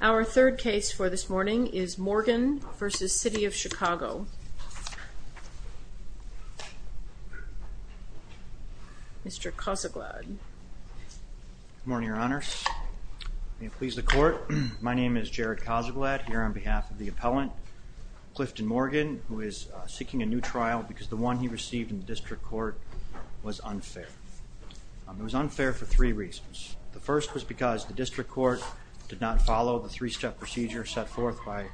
Our third case for this morning is Morgan v. City of Chicago. Mr. Cossaglad. Good morning, Your Honor. May it please the Court, my name is Jared Cossaglad here on behalf of the appellant Clifton Morgan who is seeking a new trial because the one he received in the district court was unfair. It was unfair for three reasons. The first was because the district court did not follow the three-step procedure set forth by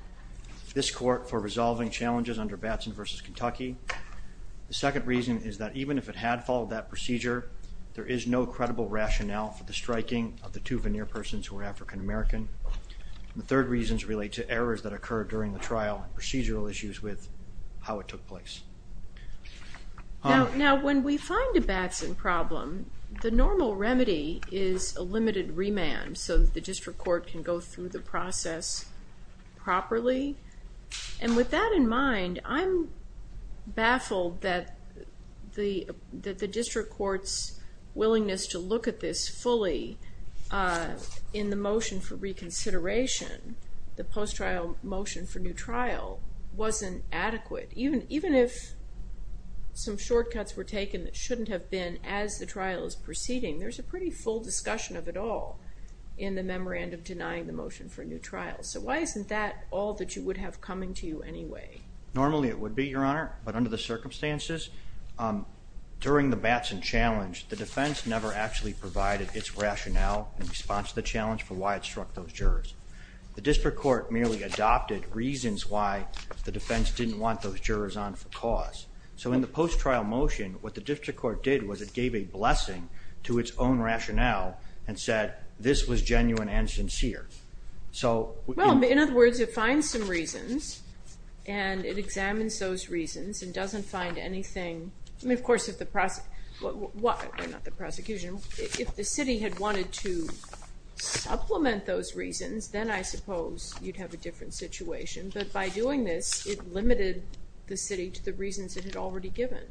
this court for resolving challenges under Batson v. Kentucky. The second reason is that even if it had followed that procedure, there is no credible rationale for the striking of the two veneer persons who are African-American. The third reasons relate to errors that occur during the trial and procedural issues with how it took place. Now when we find a Batson problem, the normal remedy is a limited remand so the district court can go through the process properly. And with that in mind, I'm baffled that the district court's willingness to look at this fully in the motion for reconsideration, the post-trial motion for new trial, wasn't adequate. Even if some shortcuts were taken that shouldn't have been as the trial is proceeding, there's a pretty full discussion of it all in the memorandum denying the motion for new trial. So why isn't that all that you would have coming to you anyway? Normally it would be, Your Honor, but under the circumstances during the Batson challenge, the defense never actually provided its rationale in response to the challenge for why it struck those jurors. The district court merely adopted reasons why the defense didn't want those jurors on for cause. So in the post-trial motion, what the district court did was it gave a blessing to its own rationale and said this was genuine and sincere. So, well, in other words, it finds some reasons and it examines those reasons and doesn't find anything. I mean, of course, if the prosecution, if the city had wanted to supplement those reasons, then I suppose you'd have a different situation, but by doing this, it limited the city to the reasons it had already given.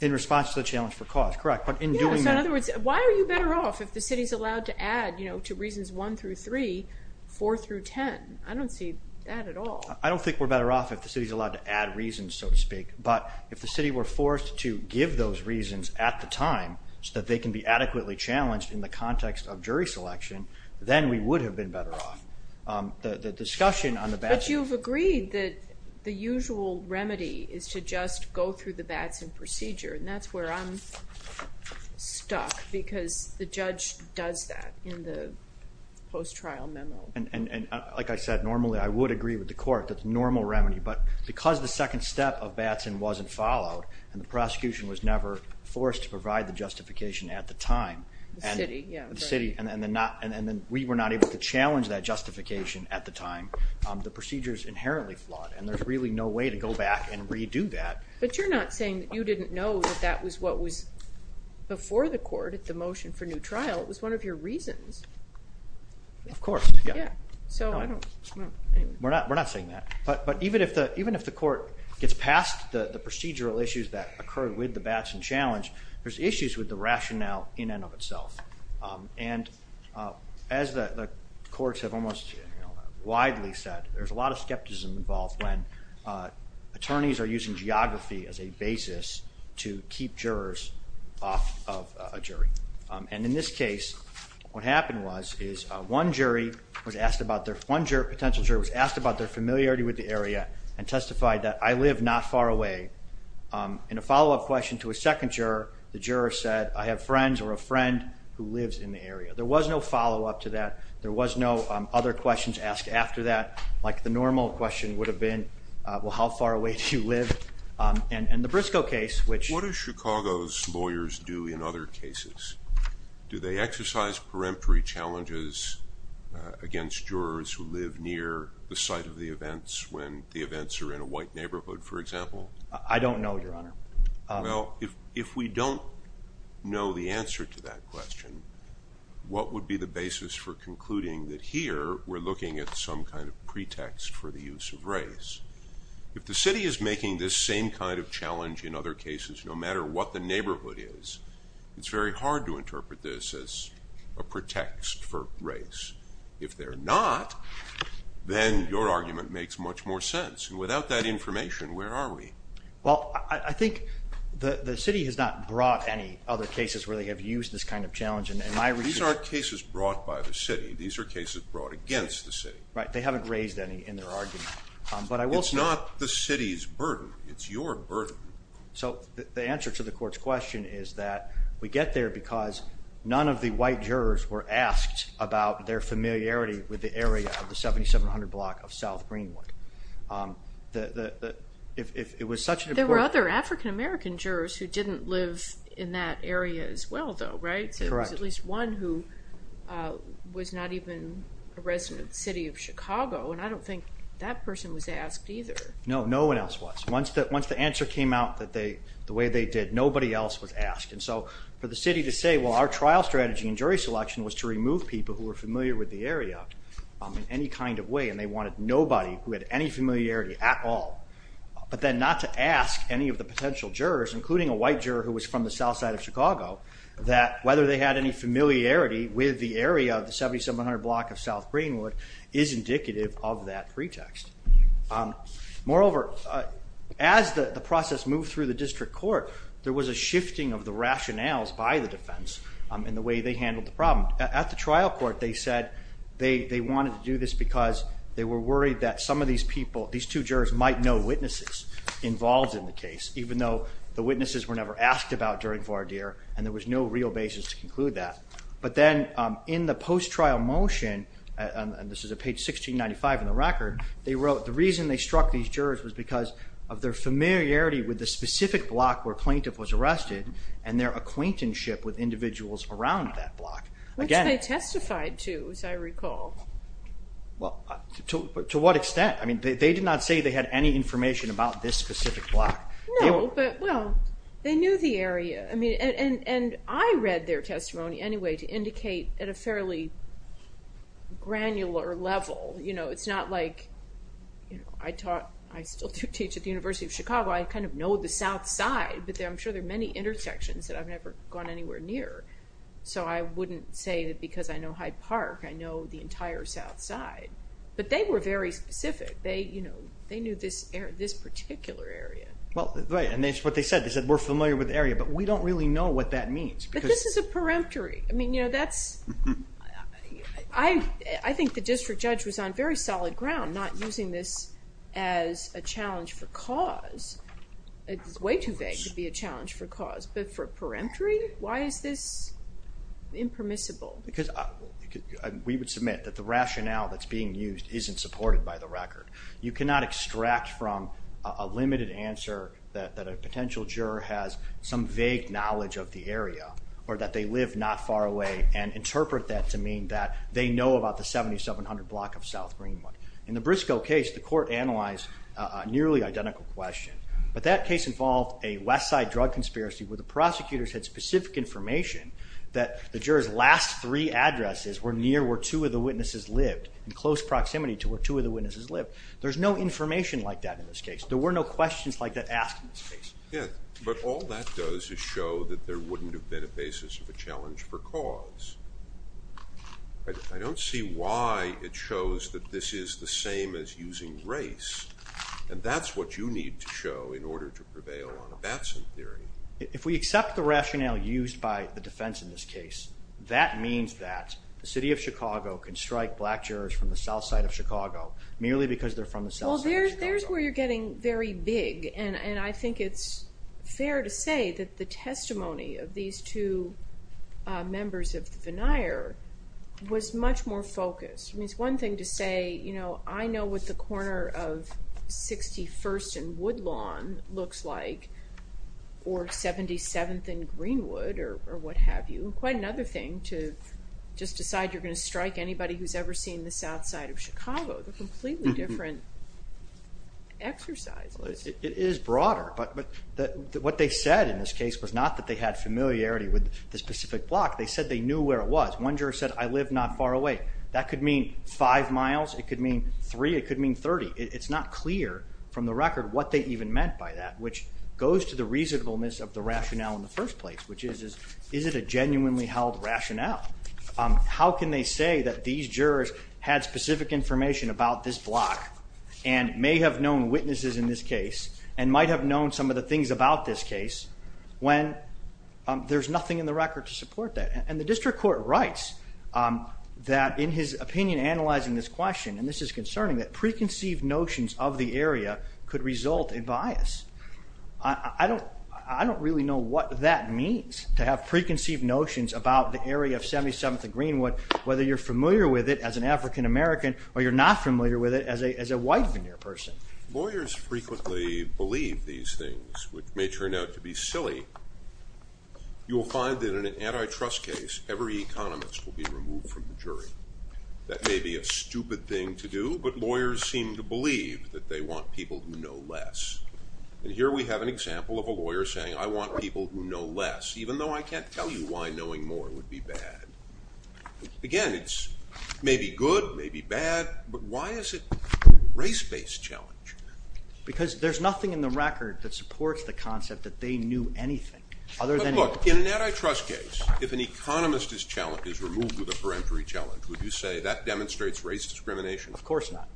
In response to the challenge for cause, correct, but in doing that. So in other words, why are you better off if the city's allowed to add, you know, to one through three, four through ten? I don't see that at all. I don't think we're better off if the city's allowed to add reasons, so to speak, but if the city were forced to give those reasons at the time so that they can be adequately challenged in the context of jury selection, then we would have been better off. The discussion on the Batson... But you've agreed that the usual remedy is to just go through the Batson procedure and that's where I'm stuck because the judge does that in the post-trial memo. And like I said, normally I would agree with the court that the normal remedy, but because the second step of Batson wasn't followed and the prosecution was never forced to provide the justification at the time, the city, and then we were not able to challenge that justification at the time, the procedure is inherently flawed and there's really no way to go back and redo that. But you're not saying that you didn't know that that was what was before the court at the motion for new trial. It was one of your reasons. Of course, yeah. We're not saying that, but even if the court gets past the procedural issues that occurred with the Batson challenge, there's issues with the rationale in and of itself. And as the courts have almost widely said, there's a lot of skepticism involved when attorneys are using geography as a basis to keep jurors off of a jury. And in this case, what happened was is one jury was asked about their, one potential juror was asked about their familiarity with the area and testified that I live not far away. In a follow-up question to a second juror, the juror said I have friends or a friend who lives in the area. There was no follow-up to that, there was no other questions asked after that, like the normal question would have been, well, how far away do you live? And the Briscoe case, which... What do Chicago's lawyers do in other cases? Do they exercise peremptory challenges against jurors who live near the site of the events when the events are in a white neighborhood, for example? I don't know, Your Honor. Well, if we don't know the answer to that question, what would be the basis for concluding that here we're looking at some kind of pretext for the use of race? If the city is making this same kind of challenge in other cases, no matter what the neighborhood is, it's very hard to interpret this as a pretext for race. If they're not, then your argument makes much more sense. And without that information, where are we? Well, I think the city has not brought any other cases where they have used this kind of challenge, and my... These aren't cases brought by the city, these are cases brought against the city. Right, they haven't raised any in their argument. But I will say... It's not the city's burden, it's your burden. So the answer to the court's question is that we get there because none of the white jurors were asked about their familiarity with the area of the 7700 block of South Greenwood. If it was such an important... There were other African-American jurors who didn't live in that area as well, though, right? There was at least one who was not even a resident of the city of Chicago, and I don't think that person was asked either. No, no one else was. Once the answer came out the way they did, nobody else was asked. And so for the city to say, well, our trial strategy in jury selection was to remove people who were familiar with the area in any kind of way, and they wanted nobody who had any familiarity at all, but then not to ask any of the potential jurors, including a white juror who was from the south side of Chicago, that whether they had any familiarity with the area of the 7700 block of South Greenwood is indicative of that pretext. Moreover, as the process moved through the district court, there was a shifting of the rationales by the defense in the way they handled the problem. At the trial court, they said they wanted to do this because they were worried that some of these people, these two jurors, might know witnesses involved in the case, even though the witnesses were never asked about during Vardir, and there was no real basis to conclude that. But then in the post-trial motion, and this is at page 1695 in the record, they wrote the reason they struck these jurors was because of their familiarity with the specific block where a plaintiff was arrested and their acquaintanceship with individuals around that block. Which they testified to, as I recall. Well, to what extent? I mean, they did not say they had any information about this specific block. No, but well, they knew the area. I mean, and I read their testimony anyway to indicate at a fairly granular level, you know, it's not like, you know, I taught, I still do teach at the University of Chicago, I kind of know the south side, but I'm sure there are many intersections that I've never gone anywhere near. So I wouldn't say that because I know Hyde Park, I know the particular area. Well, right, and that's what they said, they said we're familiar with the area, but we don't really know what that means. But this is a peremptory. I mean, you know, that's, I think the district judge was on very solid ground not using this as a challenge for cause. It's way too vague to be a challenge for cause, but for a peremptory? Why is this impermissible? Because we would submit that the rationale that's being used isn't supported by the record. You cannot extract from a limited answer that a potential juror has some vague knowledge of the area or that they live not far away and interpret that to mean that they know about the 7700 block of South Greenwood. In the Briscoe case, the court analyzed a nearly identical question, but that case involved a west side drug conspiracy where the prosecutors had specific information that the jurors last three addresses were near where two of the witnesses lived, in close information like that in this case. There were no questions like that asked in this case. Yeah, but all that does is show that there wouldn't have been a basis of a challenge for cause. I don't see why it shows that this is the same as using race, and that's what you need to show in order to prevail on a Batson theory. If we accept the rationale used by the defense in this case, that means that the city of Chicago can strike black jurors from the south side of Chicago merely because they're from the south side of Chicago. Well, there's where you're getting very big, and I think it's fair to say that the testimony of these two members of the veneer was much more focused. I mean, it's one thing to say, you know, I know what the corner of 61st and Woodlawn looks like, or 77th and Greenwood, or what have you, and quite another thing to just decide you're gonna strike anybody who's ever seen the south side of Chicago. They're completely different exercises. It is broader, but what they said in this case was not that they had familiarity with the specific block. They said they knew where it was. One juror said, I live not far away. That could mean five miles, it could mean three, it could mean thirty. It's not clear from the record what they even meant by that, which goes to the reasonableness of the rationale in the first place, which is, is it a genuinely held rationale? How can they say that these jurors had specific information about this block, and may have known witnesses in this case, and might have known some of the things about this case, when there's nothing in the record to support that? And the district court writes that in his opinion analyzing this question, and this is concerning, that preconceived notions of the area could result in bias. I don't really know what that means, to have preconceived notions about the area of 77th and Greenwood, whether you're familiar with it as an African-American, or you're not familiar with it as a white veneer person. Lawyers frequently believe these things, which may turn out to be silly. You will find that in an antitrust case, every economist will be removed from the jury. That may be a stupid thing to do, but lawyers seem to believe that they want people who know less. And here we have an example of a I can't tell you why knowing more would be bad. Again, it's maybe good, maybe bad, but why is it a race-based challenge? Because there's nothing in the record that supports the concept that they knew anything. In an antitrust case, if an economist is challenged, is removed with a peremptory challenge, would you say that demonstrates race discrimination? Of course not.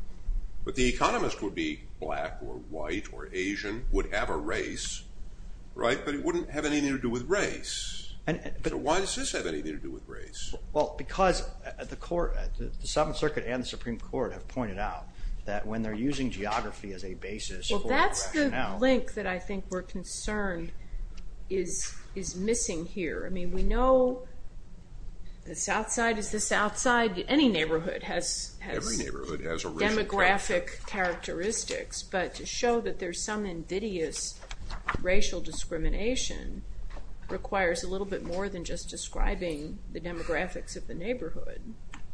But the economist would be black, or white, or Asian, would have a race, right? But it wouldn't have anything to do with race. So why does this have anything to do with race? Well, because at the court, the Seventh Circuit and the Supreme Court have pointed out that when they're using geography as a basis. Well, that's the link that I think we're concerned is missing here. I mean, we know the South Side is the South Side. Any neighborhood has demographic characteristics, but to show that there's some invidious racial discrimination requires a little bit more than just describing the demographics of the neighborhood.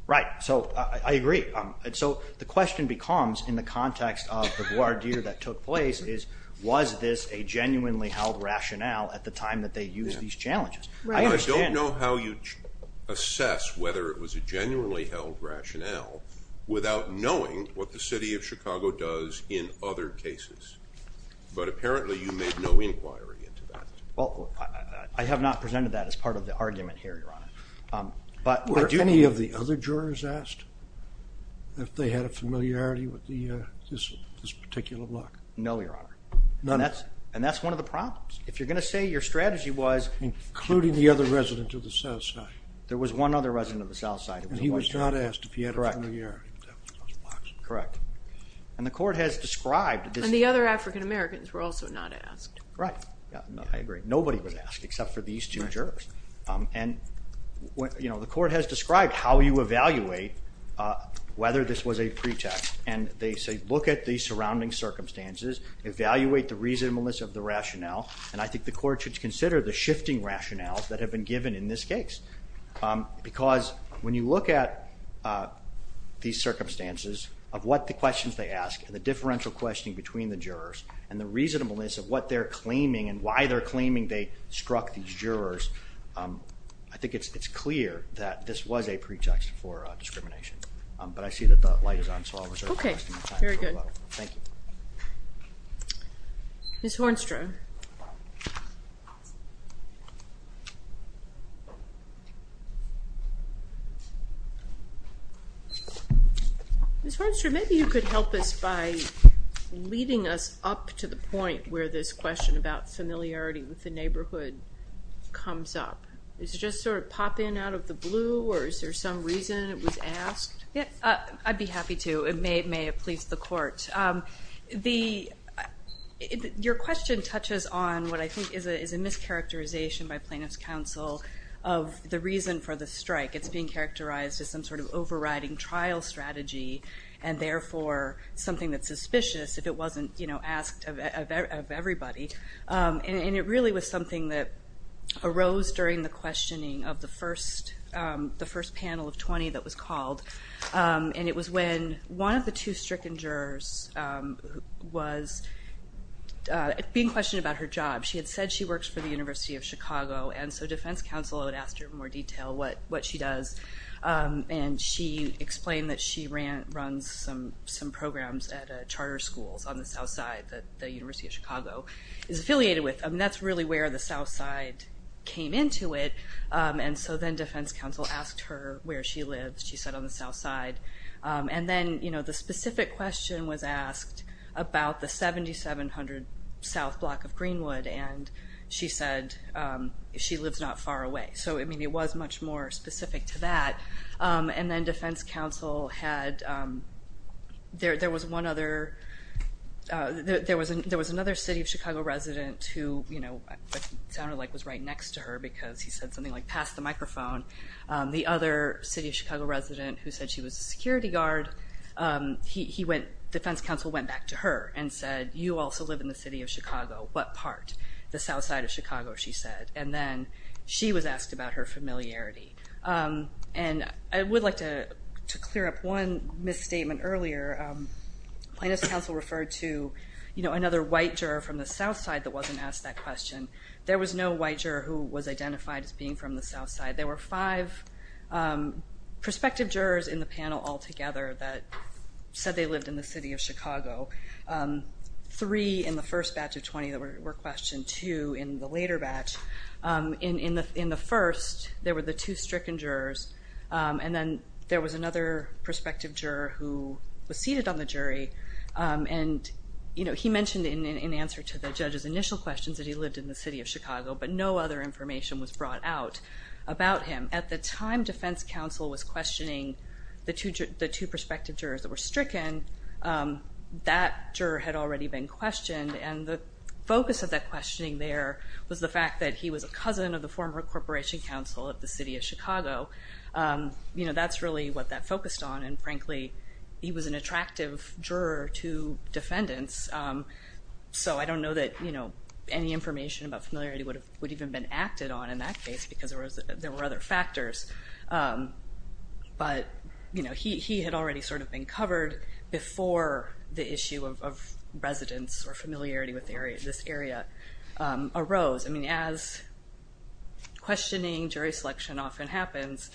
Right, so I agree. And so the question becomes, in the context of the voir dire that took place, is was this a genuinely held rationale at the time that they use these challenges? I don't know how you assess whether it was a genuinely held rationale without knowing what the City of Chicago does in other cases. But apparently you made no inquiry into that. Well, I have not presented that as part of the argument here, Your Honor. Were any of the other jurors asked if they had a familiarity with this particular block? No, Your Honor. None? And that's one of the problems. If you're gonna say your strategy was... Including the other resident of the South Side. There was one other resident of the South Side. And he was not asked if he had a familiarity. Correct. And the court has described... And the other African-Americans were also not asked. Right. I agree. Nobody was asked except for these two jurors. And what, you know, the court has described how you evaluate whether this was a pretext. And they say look at the surrounding circumstances, evaluate the reasonableness of the rationale, and I think the court should consider the shifting rationales that have been given in this case. Because when you look at these circumstances of what the questions they ask, and the differential questioning between the jurors, and the reasonableness of what they're claiming, and why they're claiming they struck these jurors, I think it's clear that this was a pretext for discrimination. But I see that the light is on, so I'll reserve the rest of my time. Okay. Very good. Thank you. Ms. Hornstrom, maybe you could help us by leading us up to the point where this question about familiarity with the neighborhood comes up. Does it just sort of pop in out of the blue, or is there some reason it was asked? Yeah, I'd be happy to. It may have pleased the court. Your question touches on what I think is a mischaracterization by plaintiff's counsel of the reason for the strike. It's being characterized as some sort of overriding trial strategy, and therefore something that's suspicious if it wasn't, you know, asked of everybody. And it really was something that arose during the questioning of the first panel of 20 that was called, and it was when one of the two stricken jurors was being questioned about her job. She had said she works for the University of Chicago, and so defense counsel had asked her in more detail what she does, and she explained that she runs some programs at charter schools on the south side that the University of Chicago is affiliated with. I mean, that's really where the south side came into it, and so then defense counsel asked her where she lives. She said on the south side. And then, you know, the specific question was asked about the 7700 South Block of Greenwood, and she said she lives not far away. So, I mean, it was much more specific to that, and then defense counsel had...there was one other...there was another City of Chicago resident who, you know, sounded like was right next to her because he said something like, pass the microphone. The other City of Chicago resident who said she was a security guard, he went...defense counsel went back to her and said, you also live in the City of Chicago. What part? The south side of Chicago, she said, and then she was asked about her familiarity. And I would like to clear up one misstatement earlier. Plaintiff's counsel referred to, you know, another white juror from the south side that wasn't asked that question. There was no white juror who was identified as being from the south side. There were five prospective jurors in the panel altogether that said they lived in the City of Chicago. Three in the first batch of 20 that were questioned, two in the later batch. In the first, there were the two stricken jurors, and then there was another prospective juror who was seated on the jury and, you know, he mentioned in answer to the judge's initial questions that he lived in the City of Chicago, but no other information was brought out about him. At the time defense counsel was questioning the two prospective jurors that were stricken, that juror had already been questioned and the focus of that questioning there was the fact that he was a cousin of the former Corporation Counsel at the City of Chicago. You know, that's really what that focused on and, frankly, he was an attractive juror to defendants, so I don't know that, you know, any information about familiarity would have would even been acted on in that case because there was there were other factors, but, you know, he had already sort of been covered before the issue of residence or familiarity with this area arose. I mean, as questioning jury selection often happens,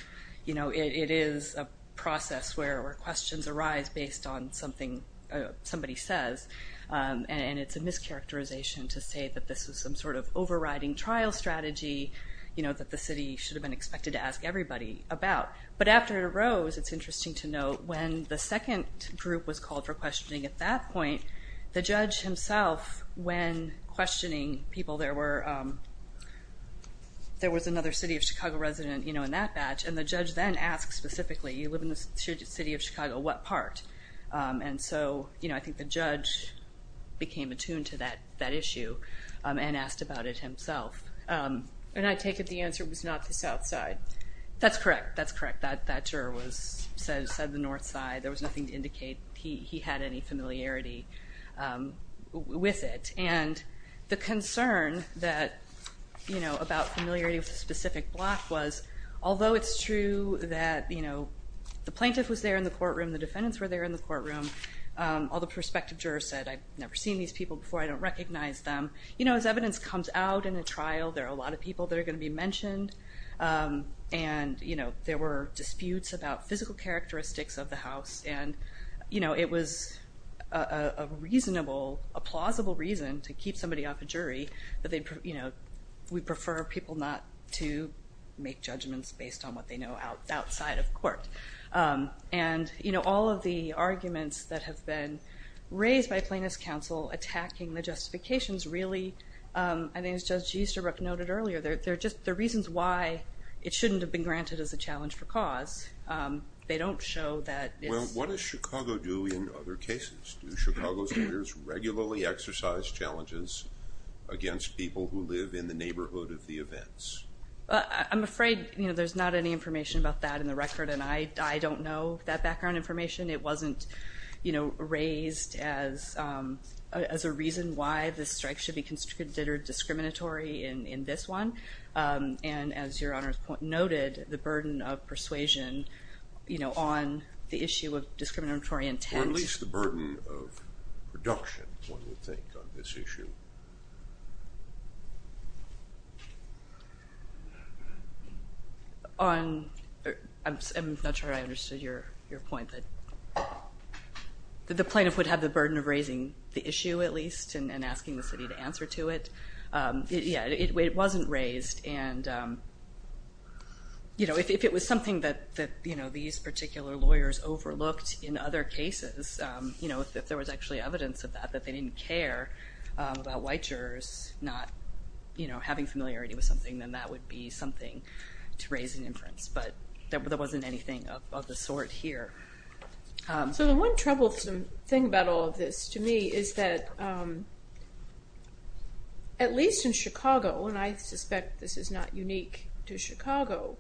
you know, it is a process where questions arise based on something somebody says, and it's a mischaracterization to say that this is some sort of overriding trial strategy, you know, that the city should have been expected to ask everybody about, but after it arose, it's interesting to note when the second group was called for questioning at that point, the judge himself, when questioning people, there was another City of Chicago resident, you know, in that batch, and the judge then asked specifically, you live in the City of Chicago, what part? And so, you know, I think the judge became attuned to that issue and asked about it himself, and I take it the answer was not the South Side. That's correct, that's correct. That juror said the North Side. There was nothing to indicate he had any you know, about familiarity with a specific block, was although it's true that, you know, the plaintiff was there in the courtroom, the defendants were there in the courtroom, all the prospective jurors said, I've never seen these people before, I don't recognize them. You know, as evidence comes out in the trial, there are a lot of people that are going to be mentioned, and, you know, there were disputes about physical characteristics of the house, and, you know, it was a reasonable, a plausible reason to keep somebody off a jury that you know, we prefer people not to make judgments based on what they know outside of court. And, you know, all of the arguments that have been raised by Plaintiff's Counsel attacking the justifications really, I think as Judge Easterbrook noted earlier, they're just the reasons why it shouldn't have been granted as a challenge for cause. They don't show that. Well, what does Chicago do in other cases? Do Chicago's jurors regularly exercise challenges against people who live in the neighborhood of the events? I'm afraid, you know, there's not any information about that in the record, and I don't know that background information. It wasn't, you know, raised as a reason why this strike should be considered discriminatory in this one, and as your Honor noted, the burden of persuasion, you know, on the issue of on, I'm not sure I understood your point, that the plaintiff would have the burden of raising the issue at least and asking the city to answer to it. Yeah, it wasn't raised and, you know, if it was something that, you know, these particular lawyers overlooked in other cases, you know, if there was actually evidence of that, that they didn't care about white jurors not, you know, having familiarity with something, then that would be something to raise an inference, but there wasn't anything of the sort here. So the one troublesome thing about all of this to me is that, at least in Chicago, and I suspect this is not unique to Chicago,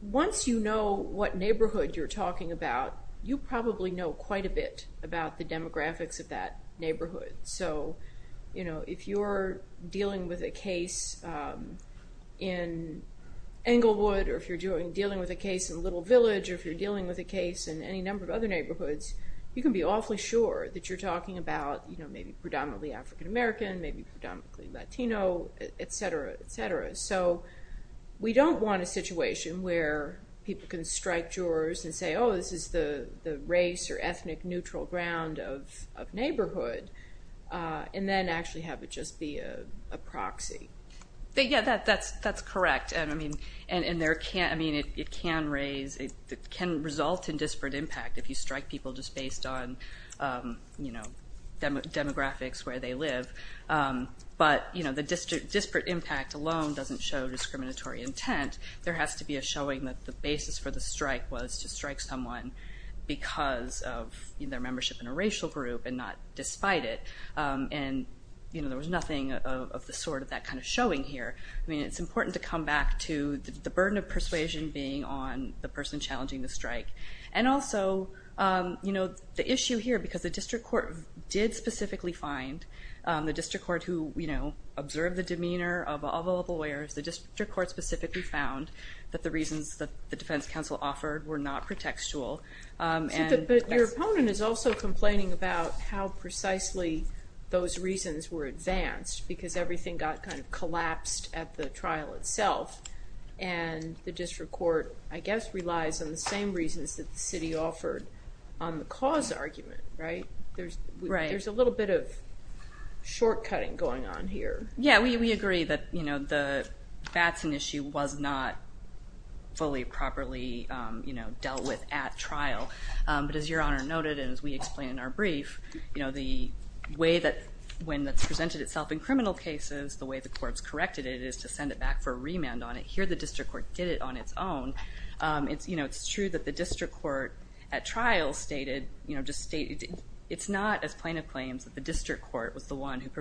once you know what neighborhood you're talking about, you probably know quite a bit about the demographics of that neighborhood. So, you know, if you're dealing with a case in Englewood, or if you're doing dealing with a case in Little Village, or if you're dealing with a case in any number of other neighborhoods, you can be awfully sure that you're talking about, you know, maybe predominantly African-American, maybe predominantly Latino, etc., etc. So we don't want a situation where people can strike jurors and say, oh, this is the race or ethnic neutral ground of neighborhood, and then actually have it just be a proxy. Yeah, that's correct, and I mean, and there can't, I mean, it can raise, it can result in disparate impact if you strike people just based on, you know, demographics where they live. But, you know, the disparate impact alone doesn't show discriminatory intent. There has to be a showing that the basis for the strike was to strike someone because of their membership in a racial group and not despite it, and, you know, there was nothing of the sort of that kind of showing here. I mean, it's important to come back to the burden of persuasion being on the person challenging the strike, and also, you know, the issue here, because the district court did specifically find, the district court who, you know, observed the demeanor of all the lawyers, the district court specifically found that the reasons that the defense counsel offered were not pretextual. But your opponent is also complaining about how precisely those reasons were advanced, because everything got kind of collapsed at the trial itself, and the district court, I guess, relies on the same reasons that the city offered on the cause argument, right? There's a little bit of that's an issue was not fully properly, you know, dealt with at trial. But as your Honor noted, and as we explained in our brief, you know, the way that when that's presented itself in criminal cases, the way the courts corrected it is to send it back for a remand on it. Here, the district court did it on its own. It's, you know, it's true that the district court at trial stated, you know, just stated, it's not as plaintiff claims that the district court was the one who in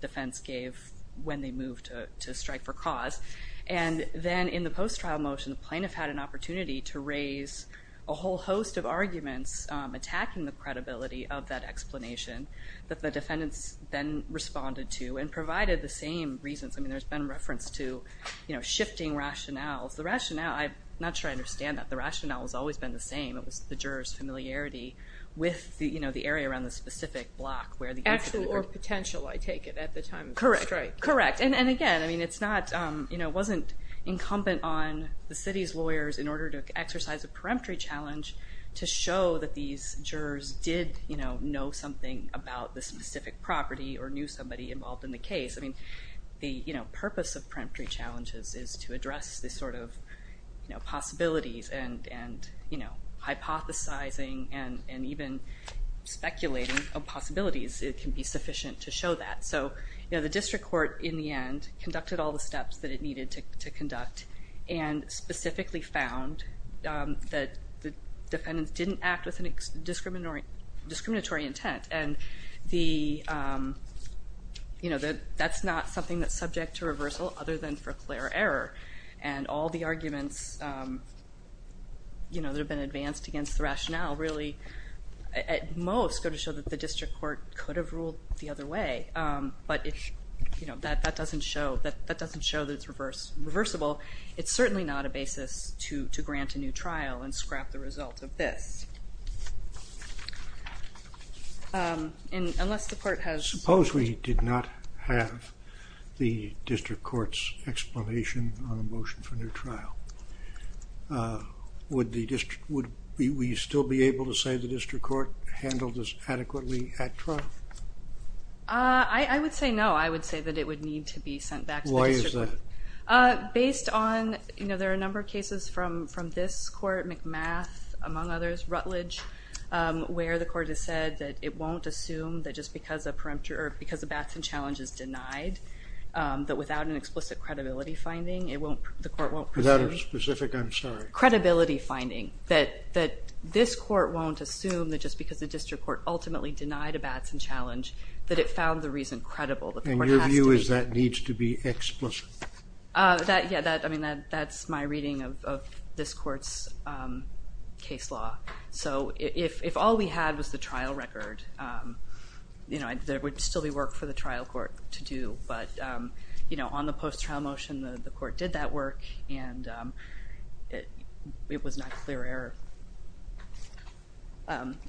defense gave when they moved to strike for cause. And then in the post trial motion, the plaintiff had an opportunity to raise a whole host of arguments attacking the credibility of that explanation that the defendants then responded to and provided the same reasons. I mean, there's been reference to, you know, shifting rationales. The rationale, I'm not sure I understand that. The rationale has always been the same. It was the jurors familiarity with the, you know, the area around the specific block where the action or potential, I take it, at the time of the strike. Correct, correct, and again, I mean, it's not, you know, it wasn't incumbent on the city's lawyers in order to exercise a peremptory challenge to show that these jurors did, you know, know something about the specific property or knew somebody involved in the case. I mean, the, you know, purpose of peremptory challenges is to address this sort of, you know, possibilities and, you know, hypothesizing and even speculating of sufficient to show that. So, you know, the district court in the end conducted all the steps that it needed to conduct and specifically found that the defendants didn't act with any discriminatory intent and the, you know, that that's not something that's subject to reversal other than for clear error and all the arguments, you know, that have been advanced against the rationale really, at most, go to show that the district court could have ruled the other way, but if, you know, that doesn't show, that doesn't show that it's reversible. It's certainly not a basis to grant a new trial and scrap the result of this. Unless the court has... Suppose we did not have the district court's explanation on a motion for new trial. Would the district, would we still be able to say the district court handled this adequately at trial? I would say no. I would say that it would need to be sent back. Why is that? Based on, you know, there are a number of cases from this court, McMath, among others, Rutledge, where the court has said that it won't assume that just because a peremptory, or because a Batson challenge is denied, that without an explicit credibility finding, it won't, the court won't... Without a specific, I'm sorry. Credibility finding, that this court won't assume that just because the district court ultimately denied a Batson challenge, that it found the reason credible. And your view is that needs to be explicit? That, yeah, that, I mean that's my reading of this court's case law. So if all we had was the trial record, you know, there would still be work for the trial court to do, but, you know, the court did that work and it was not clear error.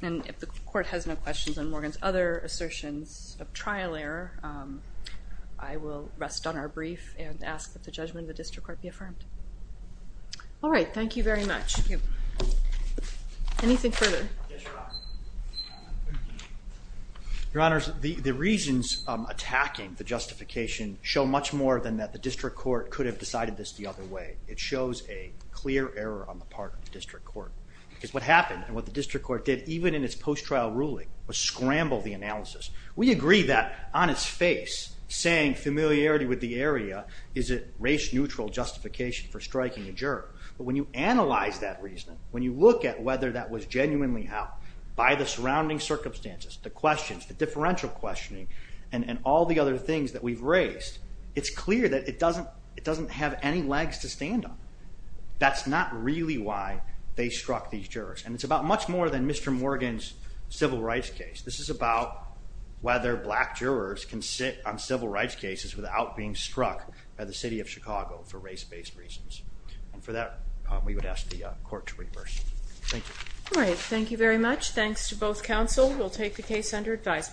And if the court has no questions on Morgan's other assertions of trial error, I will rest on our brief and ask that the judgment of the district court be affirmed. All right, thank you very much. Anything further? Your Honors, the reasons attacking the justification show much more than that district court could have decided this the other way. It shows a clear error on the part of the district court. Because what happened, and what the district court did, even in its post-trial ruling, was scramble the analysis. We agree that, on its face, saying familiarity with the area is a race-neutral justification for striking a juror. But when you analyze that reasoning, when you look at whether that was genuinely how, by the surrounding circumstances, the questions, the differential questioning, and all the other things that we've raised, it's doesn't have any legs to stand on. That's not really why they struck these jurors. And it's about much more than Mr. Morgan's civil rights case. This is about whether black jurors can sit on civil rights cases without being struck by the City of Chicago for race-based reasons. And for that, we would ask the court to reverse. Thank you. All right, thank you very much. Thanks to both counsel. We'll take the case under advisement.